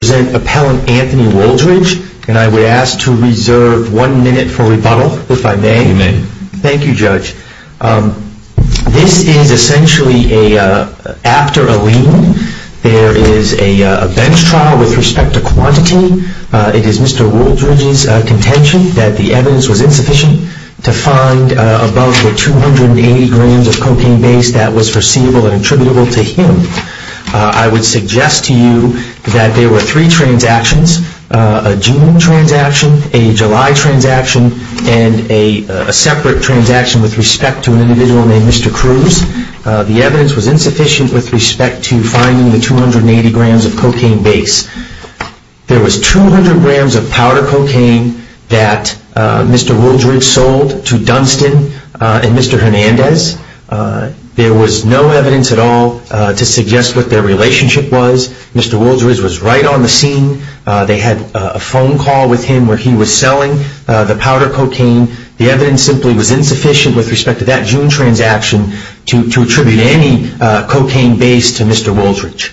This is essentially after a lien. There is a bench trial with respect to quantity. It is Mr. Wooldridge's contention that the evidence was insufficient to find above the 280 grams of cocaine base that was foreseeable and attributable to him. I would suggest to you that there were no evidence to support the claim that Mr. Wooldridge was responsible for the use of the cocaine. There were three transactions, a June transaction, a July transaction, and a separate transaction with respect to an individual named Mr. Cruz. The evidence was insufficient with respect to finding the 280 grams of cocaine base. There was 200 grams of powder cocaine that Mr. Wooldridge sold to Dunstan and Mr. Hernandez. There was no evidence at all to suggest what their relationship was. Mr. Wooldridge was right on the scene. They had a phone call with him where he was selling the powder cocaine. The evidence simply was insufficient with respect to that June transaction to attribute any cocaine base to Mr. Wooldridge.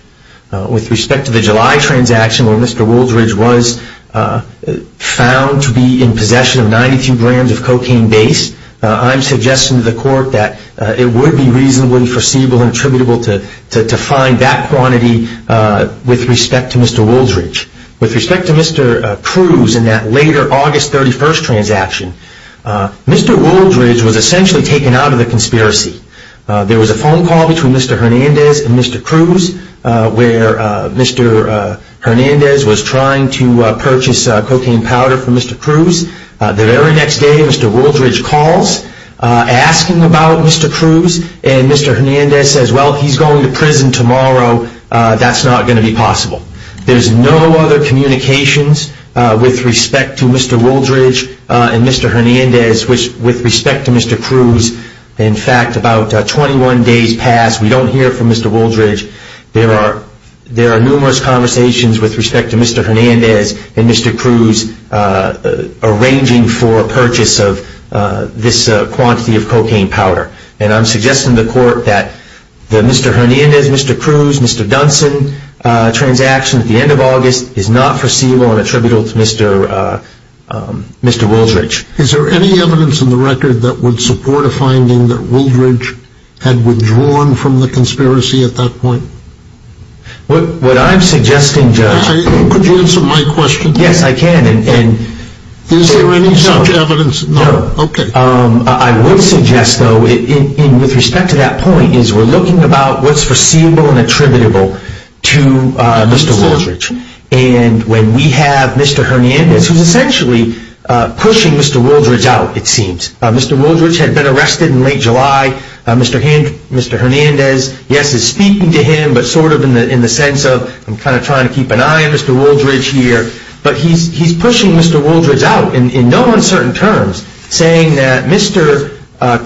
With respect to the July transaction where Mr. Wooldridge was found to be in possession of 92 grams of cocaine base, I am suggesting to the court that it would be reasonably foreseeable and attributable to find that quantity with respect to Mr. Wooldridge. With respect to Mr. Cruz and that later August 31st transaction, Mr. Wooldridge was essentially taken out of the conspiracy. There was a phone call between Mr. Hernandez and Mr. Cruz where Mr. Hernandez was trying to purchase cocaine powder for Mr. Cruz. The very next day, Mr. Wooldridge calls asking about Mr. Cruz and Mr. Hernandez says, well, he's going to prison tomorrow. That's not going to be possible. There's no other communications with respect to Mr. Wooldridge and Mr. Hernandez with respect to Mr. Cruz. In fact, about 21 days passed, we don't hear from Mr. Wooldridge. There are numerous conversations with respect to Mr. Hernandez and Mr. Cruz arranging for a purchase of this quantity of cocaine powder. I'm suggesting to the court that the Mr. Hernandez, Mr. Cruz, Mr. Dunson transaction at the end of August is not foreseeable and attributable to Mr. Wooldridge. Is there any evidence in the record that would support a finding that Wooldridge had withdrawn from the conspiracy at that point? What I'm suggesting, Judge... Could you answer my question? Yes, I can. Is there any such evidence? No. Okay. I would suggest, though, with respect to that point, is we're looking about what's foreseeable and attributable to Mr. Wooldridge. And when we have Mr. Hernandez, who's essentially pushing Mr. Wooldridge out, it seems. Mr. Wooldridge had been arrested in late July. Mr. Hernandez, yes, is speaking to him, but sort of in the sense of I'm kind of trying to keep an eye on Mr. Wooldridge here. But he's pushing Mr. Wooldridge out in no uncertain terms, saying that Mr.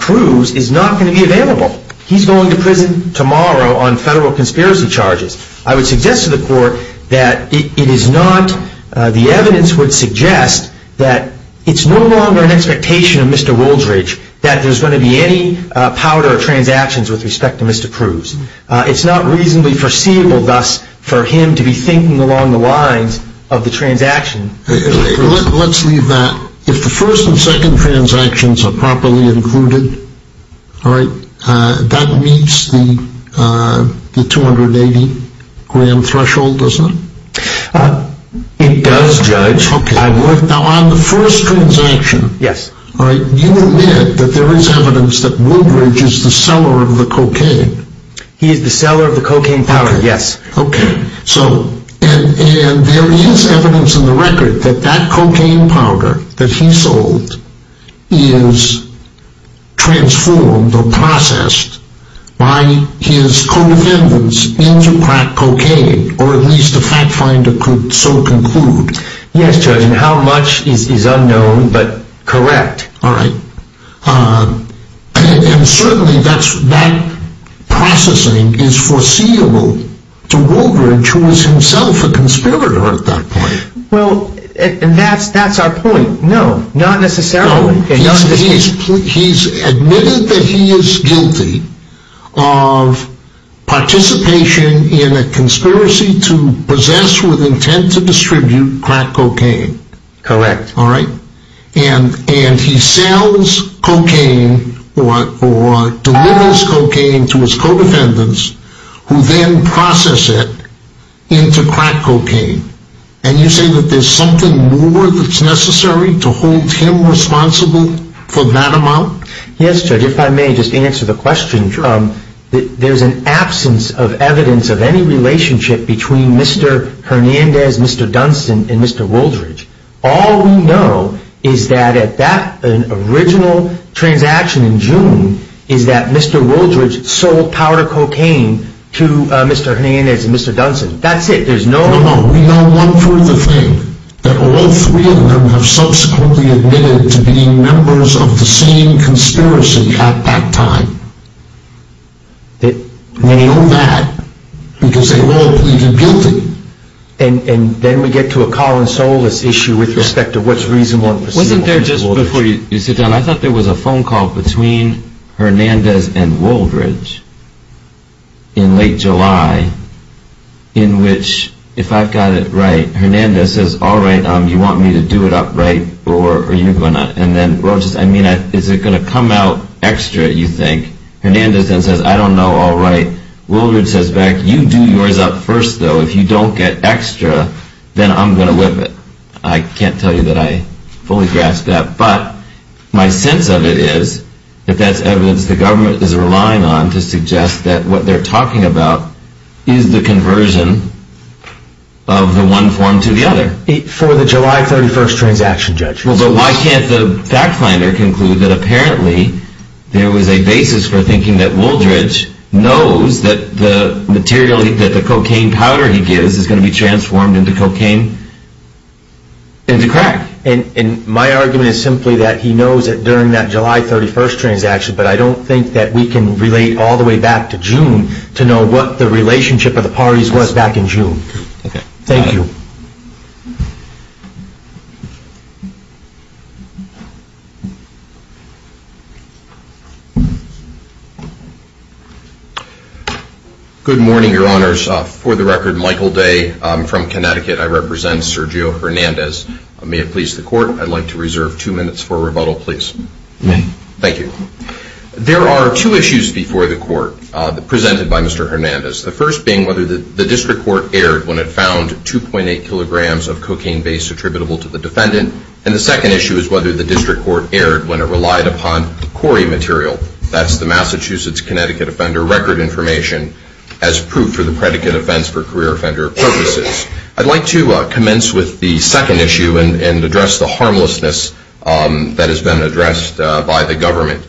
Cruz is not going to be available. He's going to prison tomorrow on federal conspiracy charges. I would suggest to the court that it is not... the evidence would suggest that it's no longer an expectation of Mr. Wooldridge that there's going to be any powder transactions with respect to Mr. Cruz. It's not reasonably foreseeable, thus, for him to be thinking along the lines of the transaction with Mr. Cruz. Let's leave that. If the first and second transactions are properly included, all right, that meets the 280-gram threshold, doesn't it? It does, Judge. Now, on the first transaction, you admit that there is evidence that Wooldridge is the seller of the cocaine. He is the seller of the cocaine powder, yes. Okay. And there is evidence in the record that that cocaine powder that he sold is transformed or processed by his co-defendants into crack cocaine, or at least a fact finder could so conclude. Yes, Judge. And how much is unknown, but correct. All right. And certainly that processing is foreseeable to Wooldridge, who was himself a conspirator at that point. Well, that's our point. No, not necessarily. He's admitted that he is guilty of participation in a conspiracy to possess with intent to distribute crack cocaine. Correct. All right. And he sells cocaine or delivers cocaine to his co-defendants, who then process it into crack cocaine. And you say that there's something more that's necessary to hold him responsible for that amount? Yes, Judge, if I may just answer the question. Sure. There's an absence of evidence of any relationship between Mr. Hernandez, Mr. Dunston, and Mr. Wooldridge. All we know is that at that original transaction in June is that Mr. Wooldridge sold powder cocaine to Mr. Hernandez and Mr. Dunston. That's it. There's no... No, no. We know one further thing. That all three of them have subsequently admitted to being members of the same conspiracy at that time. They... We know that because they were all pleaded guilty. And then we get to a call and solace issue with respect to what's reasonable and perceivable. Wasn't there, just before you sit down, I thought there was a phone call between Hernandez and Wooldridge in late July, in which, if I've got it right, Hernandez says, all right, you want me to do it up, right, or are you going to... And then, well, just, I mean, is it going to come out extra, you think? Hernandez then says, I don't know, all right. Wooldridge says back, you do yours up first, though. If you don't get extra, then I'm going to whip it. I can't tell you that I fully grasp that. But my sense of it is that that's evidence the government is relying on to suggest that what they're talking about is the conversion of the one form to the other. For the July 31st transaction, Judge. Well, but why can't the fact finder conclude that apparently there was a basis for thinking that Wooldridge knows that the material, that the cocaine powder he gives is going to be transformed into cocaine, into crack? And my argument is simply that he knows that during that July 31st transaction, but I don't think that we can relate all the way back to June to know what the relationship of the parties was back in June. Thank you. Good morning, Your Honors. For the record, Michael Day. I'm from Connecticut. I represent Sergio Hernandez. May it please the Court, I'd like to reserve two minutes for rebuttal, please. Thank you. There are two issues before the Court presented by Mr. Hernandez. The first being whether the district court erred when it found 2.8 kilograms of cocaine base attributable to the defendant, and the second issue is whether the district court erred when it relied upon CORI material, that's the Massachusetts Connecticut Offender Record Information, as proof for the predicate offense for career offender purposes. I'd like to commence with the second issue and address the harmlessness that has been addressed by the government.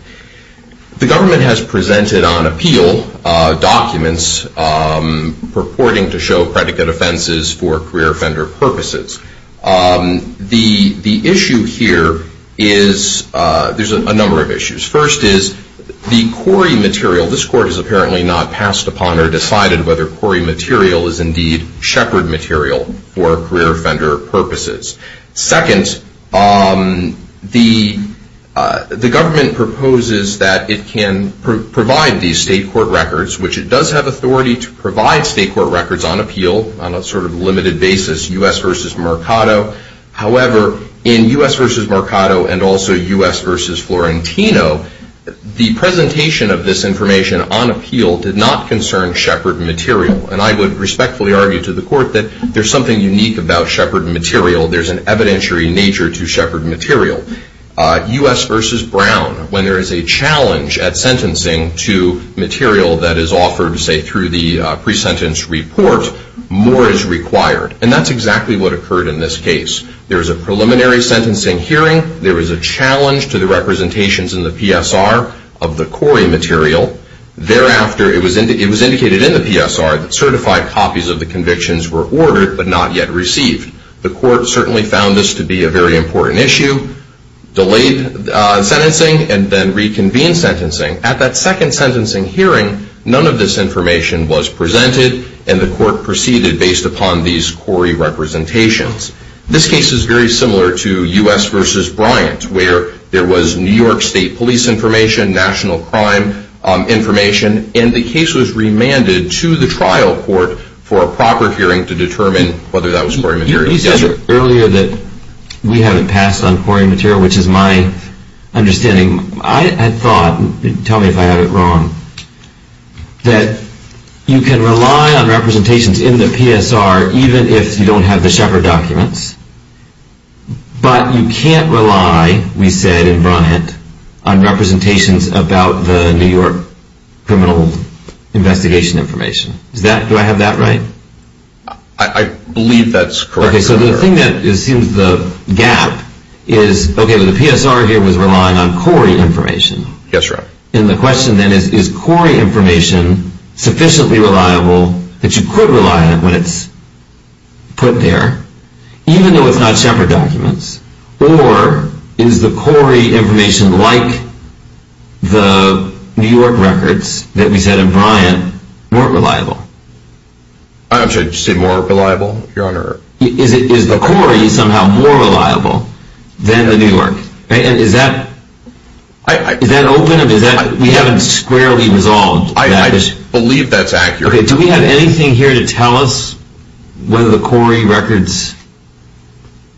The government has presented on appeal documents purporting to show predicate offenses for career offender purposes. The issue here is, there's a number of issues. First is the CORI material, this Court has apparently not passed upon or decided whether CORI material is indeed shepherd material for career offender purposes. Second, the government proposes that it can provide these state court records, which it does have authority to provide state court records on appeal on a sort of limited basis, U.S. v. Mercado. However, in U.S. v. Mercado and also U.S. v. Florentino, the presentation of this information on appeal did not concern shepherd material, and I would respectfully argue to the Court that there's something unique about shepherd material. There's an evidentiary nature to shepherd material. U.S. v. Brown, when there is a challenge at sentencing to material that is offered, say, through the pre-sentence report, more is required, and that's exactly what occurred in this case. There was a preliminary sentencing hearing. There was a challenge to the representations in the PSR of the CORI material. Thereafter, it was indicated in the PSR that certified copies of the convictions were ordered but not yet received. The Court certainly found this to be a very important issue, delayed sentencing, and then reconvened sentencing. At that second sentencing hearing, none of this information was presented, and the Court proceeded based upon these CORI representations. This case is very similar to U.S. v. Bryant, where there was New York State police information, national crime information, and the case was remanded to the trial court for a proper hearing to determine whether that was CORI material. You said earlier that we haven't passed on CORI material, which is my understanding. I had thought, tell me if I have it wrong, that you can rely on representations in the PSR even if you don't have the shepherd documents, but you can't rely, we said in Bryant, on representations about the New York criminal investigation information. Do I have that right? I believe that's correct. Okay, so the thing that assumes the gap is, okay, the PSR here was relying on CORI information. Yes, sir. And the question then is, is CORI information sufficiently reliable that you could rely on it when it's put there, even though it's not shepherd documents? Or is the CORI information like the New York records that we said in Bryant weren't reliable? I'm sorry, did you say more reliable, Your Honor? Is the CORI somehow more reliable than the New York? And is that open or is that, we haven't squarely resolved that issue. I believe that's accurate. Okay, do we have anything here to tell us whether the CORI records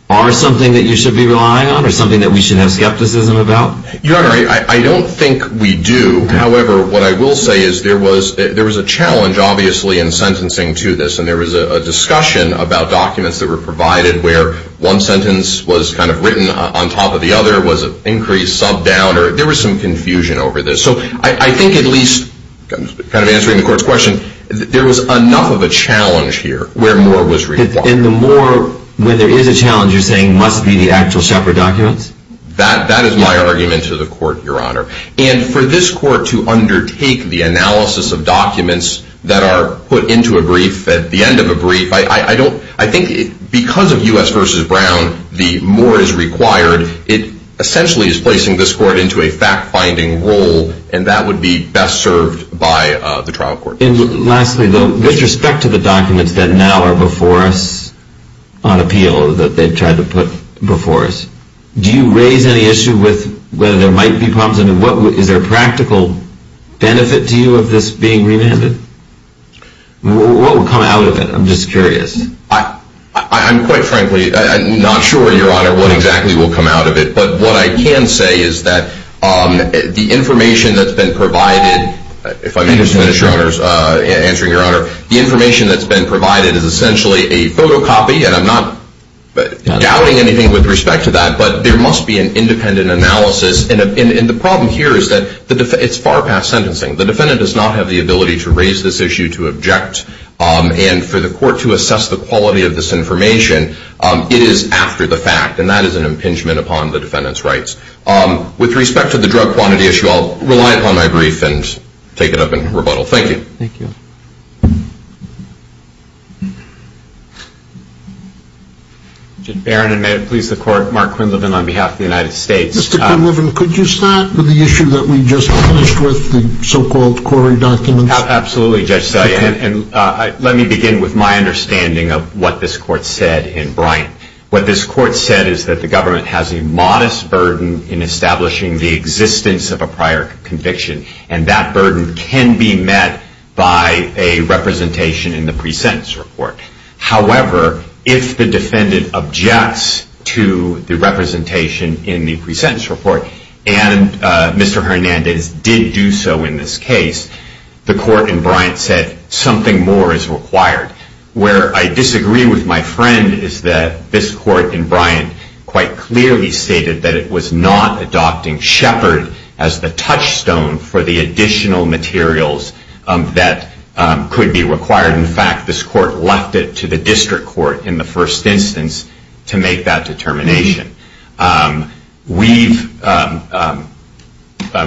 are something that you should be relying on or something that we should have skepticism about? Your Honor, I don't think we do. However, what I will say is there was a challenge, obviously, in sentencing to this, and there was a discussion about documents that were provided where one sentence was kind of written on top of the other, was it increased, subbed down, there was some confusion over this. So I think at least, kind of answering the court's question, there was enough of a challenge here where more was required. And the more, when there is a challenge, you're saying must be the actual shepherd documents? That is my argument to the court, Your Honor. And for this court to undertake the analysis of documents that are put into a brief at the end of a brief, I think because of U.S. v. Brown, the more is required, it essentially is placing this court into a fact-finding role, and that would be best served by the trial court. And lastly, though, with respect to the documents that now are before us on appeal that they've tried to put before us, do you raise any issue with whether there might be problems? I mean, is there a practical benefit to you of this being remanded? What will come out of it? I'm just curious. I'm quite frankly not sure, Your Honor, what exactly will come out of it. But what I can say is that the information that's been provided, if I may just finish, Your Honor, answering Your Honor, the information that's been provided is essentially a photocopy, and I'm not doubting anything with respect to that, but there must be an independent analysis. And the problem here is that it's far past sentencing. The defendant does not have the ability to raise this issue, to object, and for the court to assess the quality of this information, it is after the fact, and that is an impingement upon the defendant's rights. With respect to the drug quantity issue, I'll rely upon my brief and take it up in rebuttal. Thank you. Thank you. Mr. Barron, and may it please the Court, Mark Quinlivan on behalf of the United States. Mr. Quinlivan, could you start with the issue that we just finished with, the so-called quarry documents? Absolutely, Judge Steyer, and let me begin with my understanding of what this Court said in Bryant. What this Court said is that the government has a modest burden in establishing the existence of a prior conviction, and that burden can be met by a representation in the pre-sentence report. However, if the defendant objects to the representation in the pre-sentence report, and Mr. Hernandez did do so in this case, the Court in Bryant said something more is required. Where I disagree with my friend is that this Court in Bryant quite clearly stated that it was not adopting Shepard as the touchstone for the additional materials that could be required. In fact, this Court left it to the district court in the first instance to make that determination. We've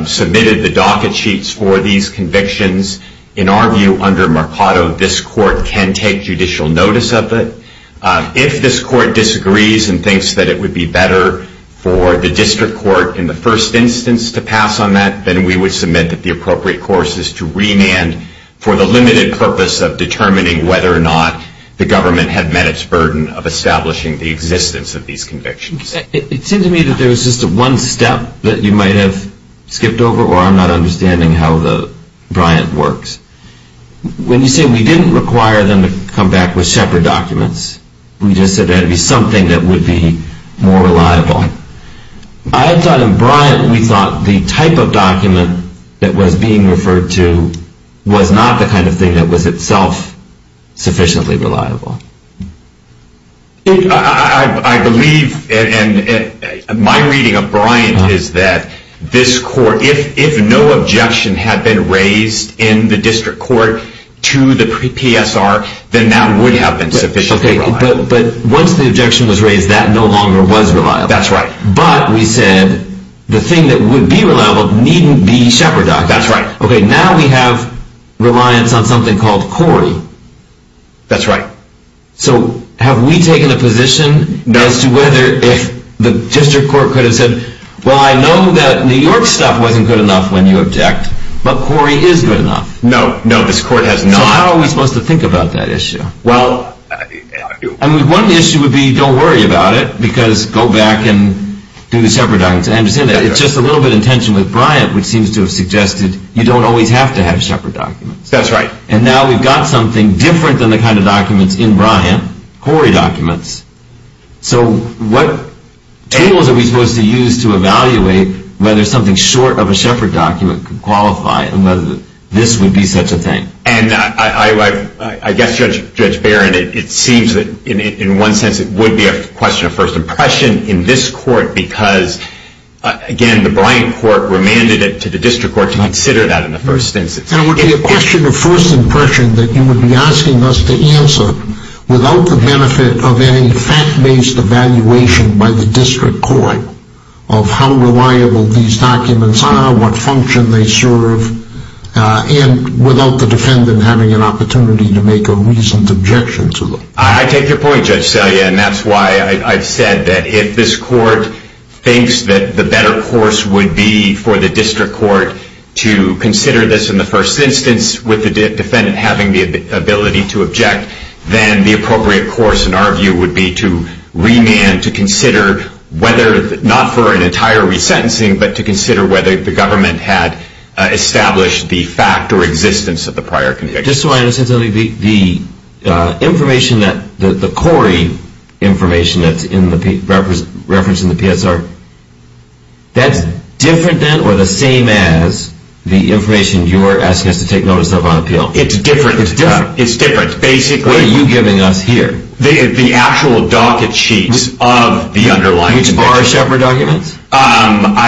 submitted the docket sheets for these convictions. In our view, under Mercado, this Court can take judicial notice of it. If this Court disagrees and thinks that it would be better for the district court in the first instance to pass on that, then we would submit that the appropriate course is to remand for the limited purpose of determining whether or not the government had met its burden of establishing the existence of these convictions. It seems to me that there was just one step that you might have skipped over, or I'm not understanding how the Bryant works. When you say we didn't require them to come back with Shepard documents, we just said there had to be something that would be more reliable. I thought in Bryant we thought the type of document that was being referred to was not the kind of thing that was itself sufficiently reliable. I believe, and my reading of Bryant is that this Court, if no objection had been raised in the district court to the PSR, But once the objection was raised, that no longer was reliable. But we said the thing that would be reliable needn't be Shepard documents. Now we have reliance on something called CORI. That's right. So have we taken a position as to whether if the district court could have said, well I know that New York stuff wasn't good enough when you object, but CORI is good enough. No, this Court has not. So how are we supposed to think about that issue? Well, one issue would be don't worry about it, because go back and do the Shepard documents. It's just a little bit in tension with Bryant, which seems to have suggested you don't always have to have Shepard documents. That's right. And now we've got something different than the kind of documents in Bryant, CORI documents. So what tools are we supposed to use to evaluate whether something short of a Shepard document could qualify and whether this would be such a thing? And I guess, Judge Barron, it seems that in one sense it would be a question of first impression in this court, because, again, the Bryant court remanded it to the district court to consider that in the first instance. It would be a question of first impression that you would be asking us to answer without the benefit of any fact-based evaluation by the district court of how reliable these documents are, what function they serve, and without the defendant having an opportunity to make a reasoned objection to them. I take your point, Judge Selye, and that's why I've said that if this court thinks that the better course would be for the district court to consider this in the first instance with the defendant having the ability to object, then the appropriate course, in our view, would be to remand to consider whether, not for an entire resentencing, but to consider whether the government had established the fact or existence of the prior conviction. Just so I understand, Selye, the information, the CORI information that's referenced in the PSR, that's different then or the same as the information you're asking us to take notice of on appeal? It's different. It's different? It's different, basically. What are you giving us here? The actual docket sheets of the underlying document. Which are Shepard documents?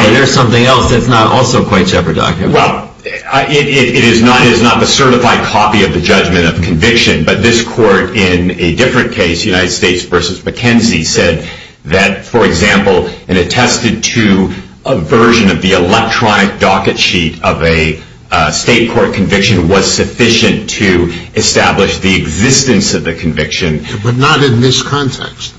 There's something else that's not also quite Shepard documents. Well, it is not a certified copy of the judgment of conviction, but this court in a different case, United States v. McKenzie, said that, for example, it attested to a version of the electronic docket sheet of a state court conviction was sufficient to establish the existence of the conviction. But not in this context.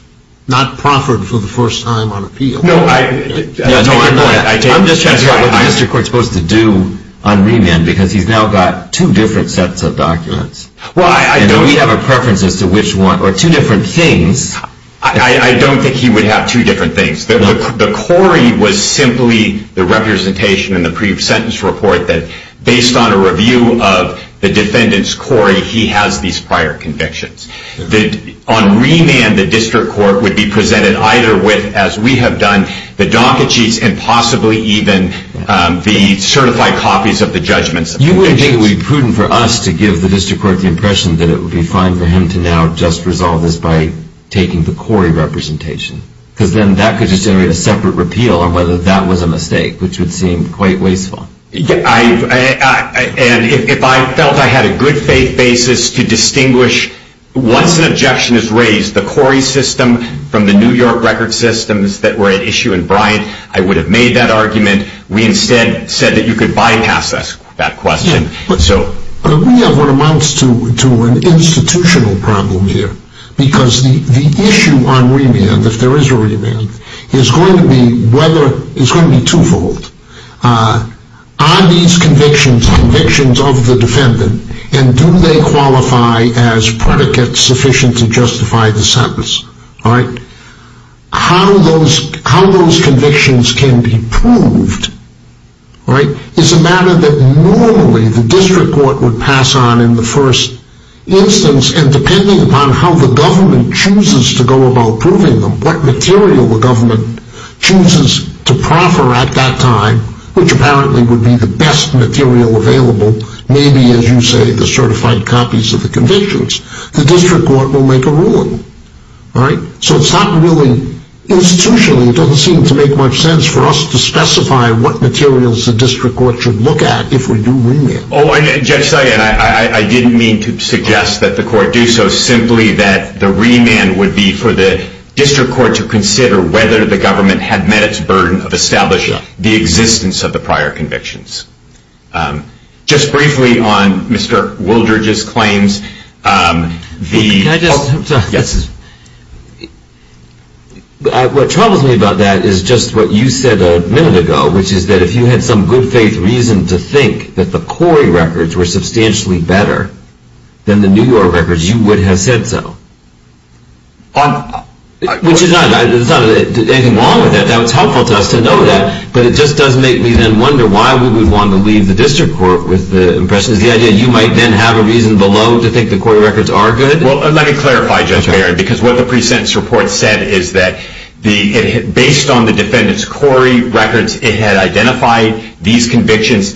Not proffered for the first time on appeal. No, I'm just trying to figure out what the district court is supposed to do on remand, because he's now got two different sets of documents. And we have a preference as to which one, or two different things. I don't think he would have two different things. The CORI was simply the representation in the pre-sentence report that, based on a review of the defendant's CORI, he has these prior convictions. On remand, the district court would be presented either with, as we have done, the docket sheets and possibly even the certified copies of the judgments. You wouldn't think it would be prudent for us to give the district court the impression that it would be fine for him to now just resolve this by taking the CORI representation? Because then that could just generate a separate repeal on whether that was a mistake, which would seem quite wasteful. And if I felt I had a good faith basis to distinguish, once an objection is raised, the CORI system from the New York record systems that were at issue in Bryant, I would have made that argument. We instead said that you could bypass that question. We have what amounts to an institutional problem here, because the issue on remand, if there is a remand, is going to be twofold. Are these convictions convictions of the defendant, and do they qualify as predicates sufficient to justify the sentence? How those convictions can be proved is a matter that normally the district court would pass on in the first instance, and depending upon how the government chooses to go about proving them, what material the government chooses to proffer at that time, which apparently would be the best material available, maybe, as you say, the certified copies of the convictions, the district court will make a ruling. So it's not really institutionally, it doesn't seem to make much sense for us to specify what materials the district court should look at if we do remand. Judge Sagan, I didn't mean to suggest that the court do so, simply that the remand would be for the district court to consider whether the government had met its burden of establishing the existence of the prior convictions. Just briefly on Mr. Wooldridge's claims. What troubles me about that is just what you said a minute ago, which is that if you had some good faith reason to think that the Corey records were substantially better than the New York records, you would have said so. Which is not anything wrong with that. That was helpful to us to know that, but it just does make me then wonder why we would want to leave the district court with the impression that you might then have a reason below to think the Corey records are good. Well, let me clarify, Judge Barron, because what the pre-sentence report said is that based on the defendant's Corey records, it had identified these convictions.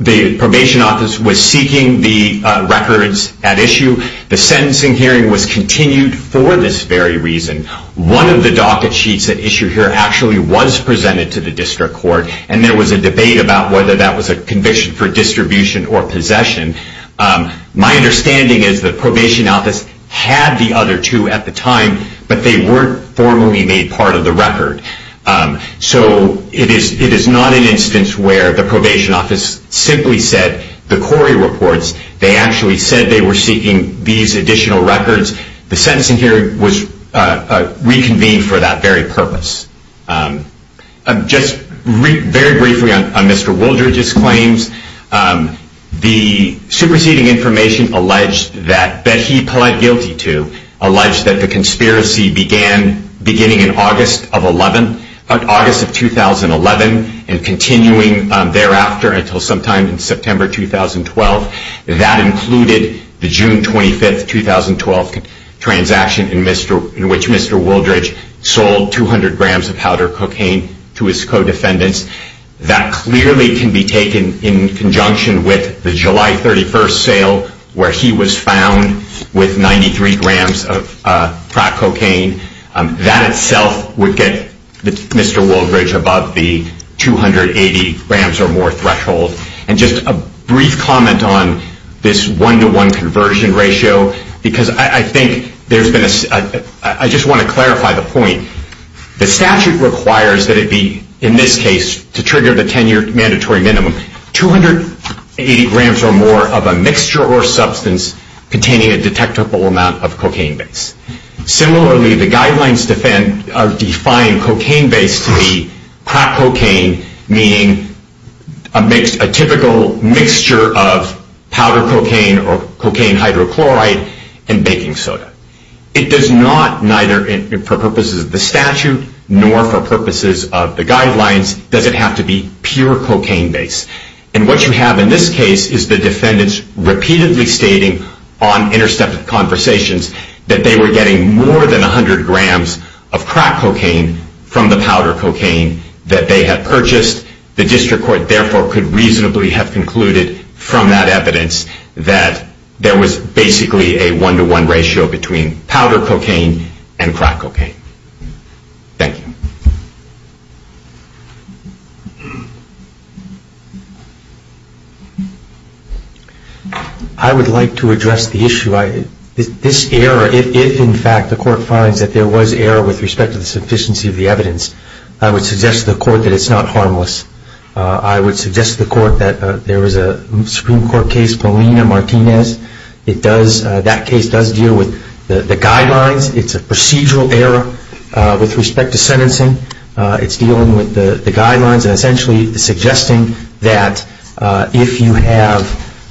The probation office was seeking the records at issue. The sentencing hearing was continued for this very reason. One of the docket sheets at issue here actually was presented to the district court, and there was a debate about whether that was a conviction for distribution or possession. My understanding is the probation office had the other two at the time, but they weren't formally made part of the record. So it is not an instance where the probation office simply said the Corey reports. They actually said they were seeking these additional records. The sentencing hearing was reconvened for that very purpose. Just very briefly on Mr. Wooldridge's claims, the superseding information alleged that he pled guilty to alleged that the conspiracy began beginning in August of 2011 and continuing thereafter until sometime in September 2012. That included the June 25, 2012, transaction in which Mr. Wooldridge sold 200 grams of powder cocaine to his co-defendants. That clearly can be taken in conjunction with the July 31 sale where he was found with 93 grams of crack cocaine. That itself would get Mr. Wooldridge above the 280 grams or more threshold. And just a brief comment on this one-to-one conversion ratio, because I think there's been a... I just want to clarify the point. The statute requires that it be, in this case, to trigger the 10-year mandatory minimum. 280 grams or more of a mixture or substance containing a detectable amount of cocaine base. Similarly, the guidelines define cocaine base to be crack cocaine, meaning a typical mixture of powder cocaine or cocaine hydrochloride and baking soda. It does not, neither for purposes of the statute nor for purposes of the guidelines, does it have to be pure cocaine base. And what you have in this case is the defendants repeatedly stating on interstep conversations that they were getting more than 100 grams of crack cocaine from the powder cocaine that they had purchased. The district court, therefore, could reasonably have concluded from that evidence that there was basically a one-to-one ratio between powder cocaine and crack cocaine. Thank you. I would like to address the issue. This error, if in fact the court finds that there was error with respect to the sufficiency of the evidence, I would suggest to the court that it's not harmless. I would suggest to the court that there was a Supreme Court case, Polina-Martinez. That case does deal with the guidelines. It's a procedural error with respect to sentencing. It's dealing with the guidelines and essentially suggesting that if you have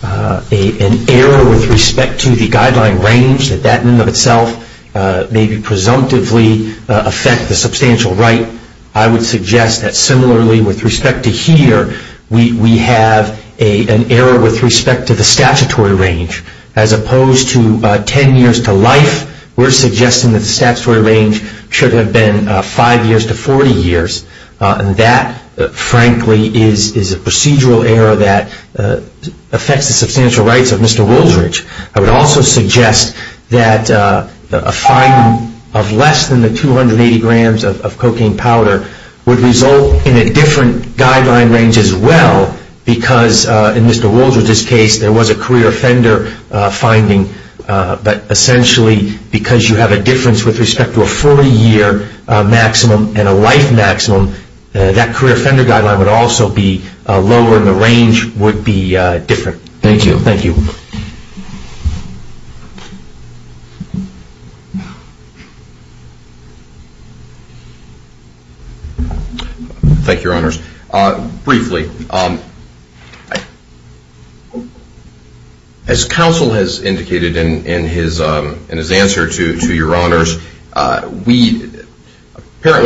an error with respect to the guideline range, that that in and of itself may be presumptively affect the substantial right. I would suggest that similarly with respect to here, we have an error with respect to the statutory range. As opposed to 10 years to life, we're suggesting that the statutory range should have been 5 years to 40 years. And that, frankly, is a procedural error that affects the substantial rights of Mr. Woldridge. I would also suggest that a finding of less than the 280 grams of cocaine powder would result in a different guideline range as well, because in Mr. Woldridge's case, there was a career offender finding. But essentially, because you have a difference with respect to a 40-year maximum and a life maximum, that career offender guideline would also be lower and the range would be different. Thank you. Thank you, Your Honors. Briefly, as counsel has indicated in his answer to Your Honors, apparently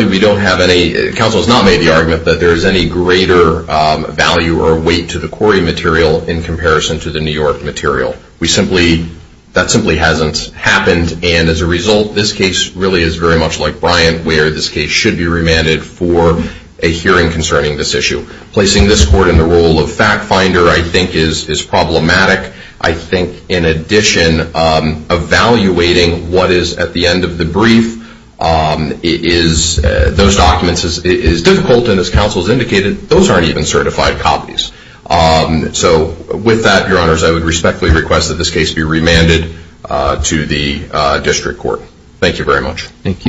we don't have any, counsel has not made the argument that there is any greater value or weight to the Quarry material in comparison to the New York material. We simply, that simply hasn't happened. And as a result, this case really is very much like Bryant, where this case should be remanded for a hearing concerning this issue. Placing this court in the role of fact finder, I think, is problematic. I think, in addition, evaluating what is at the end of the brief is, those documents is difficult, and as counsel has indicated, those aren't even certified copies. So with that, Your Honors, I would respectfully request that this case be remanded to the district court. Thank you very much. Thank you.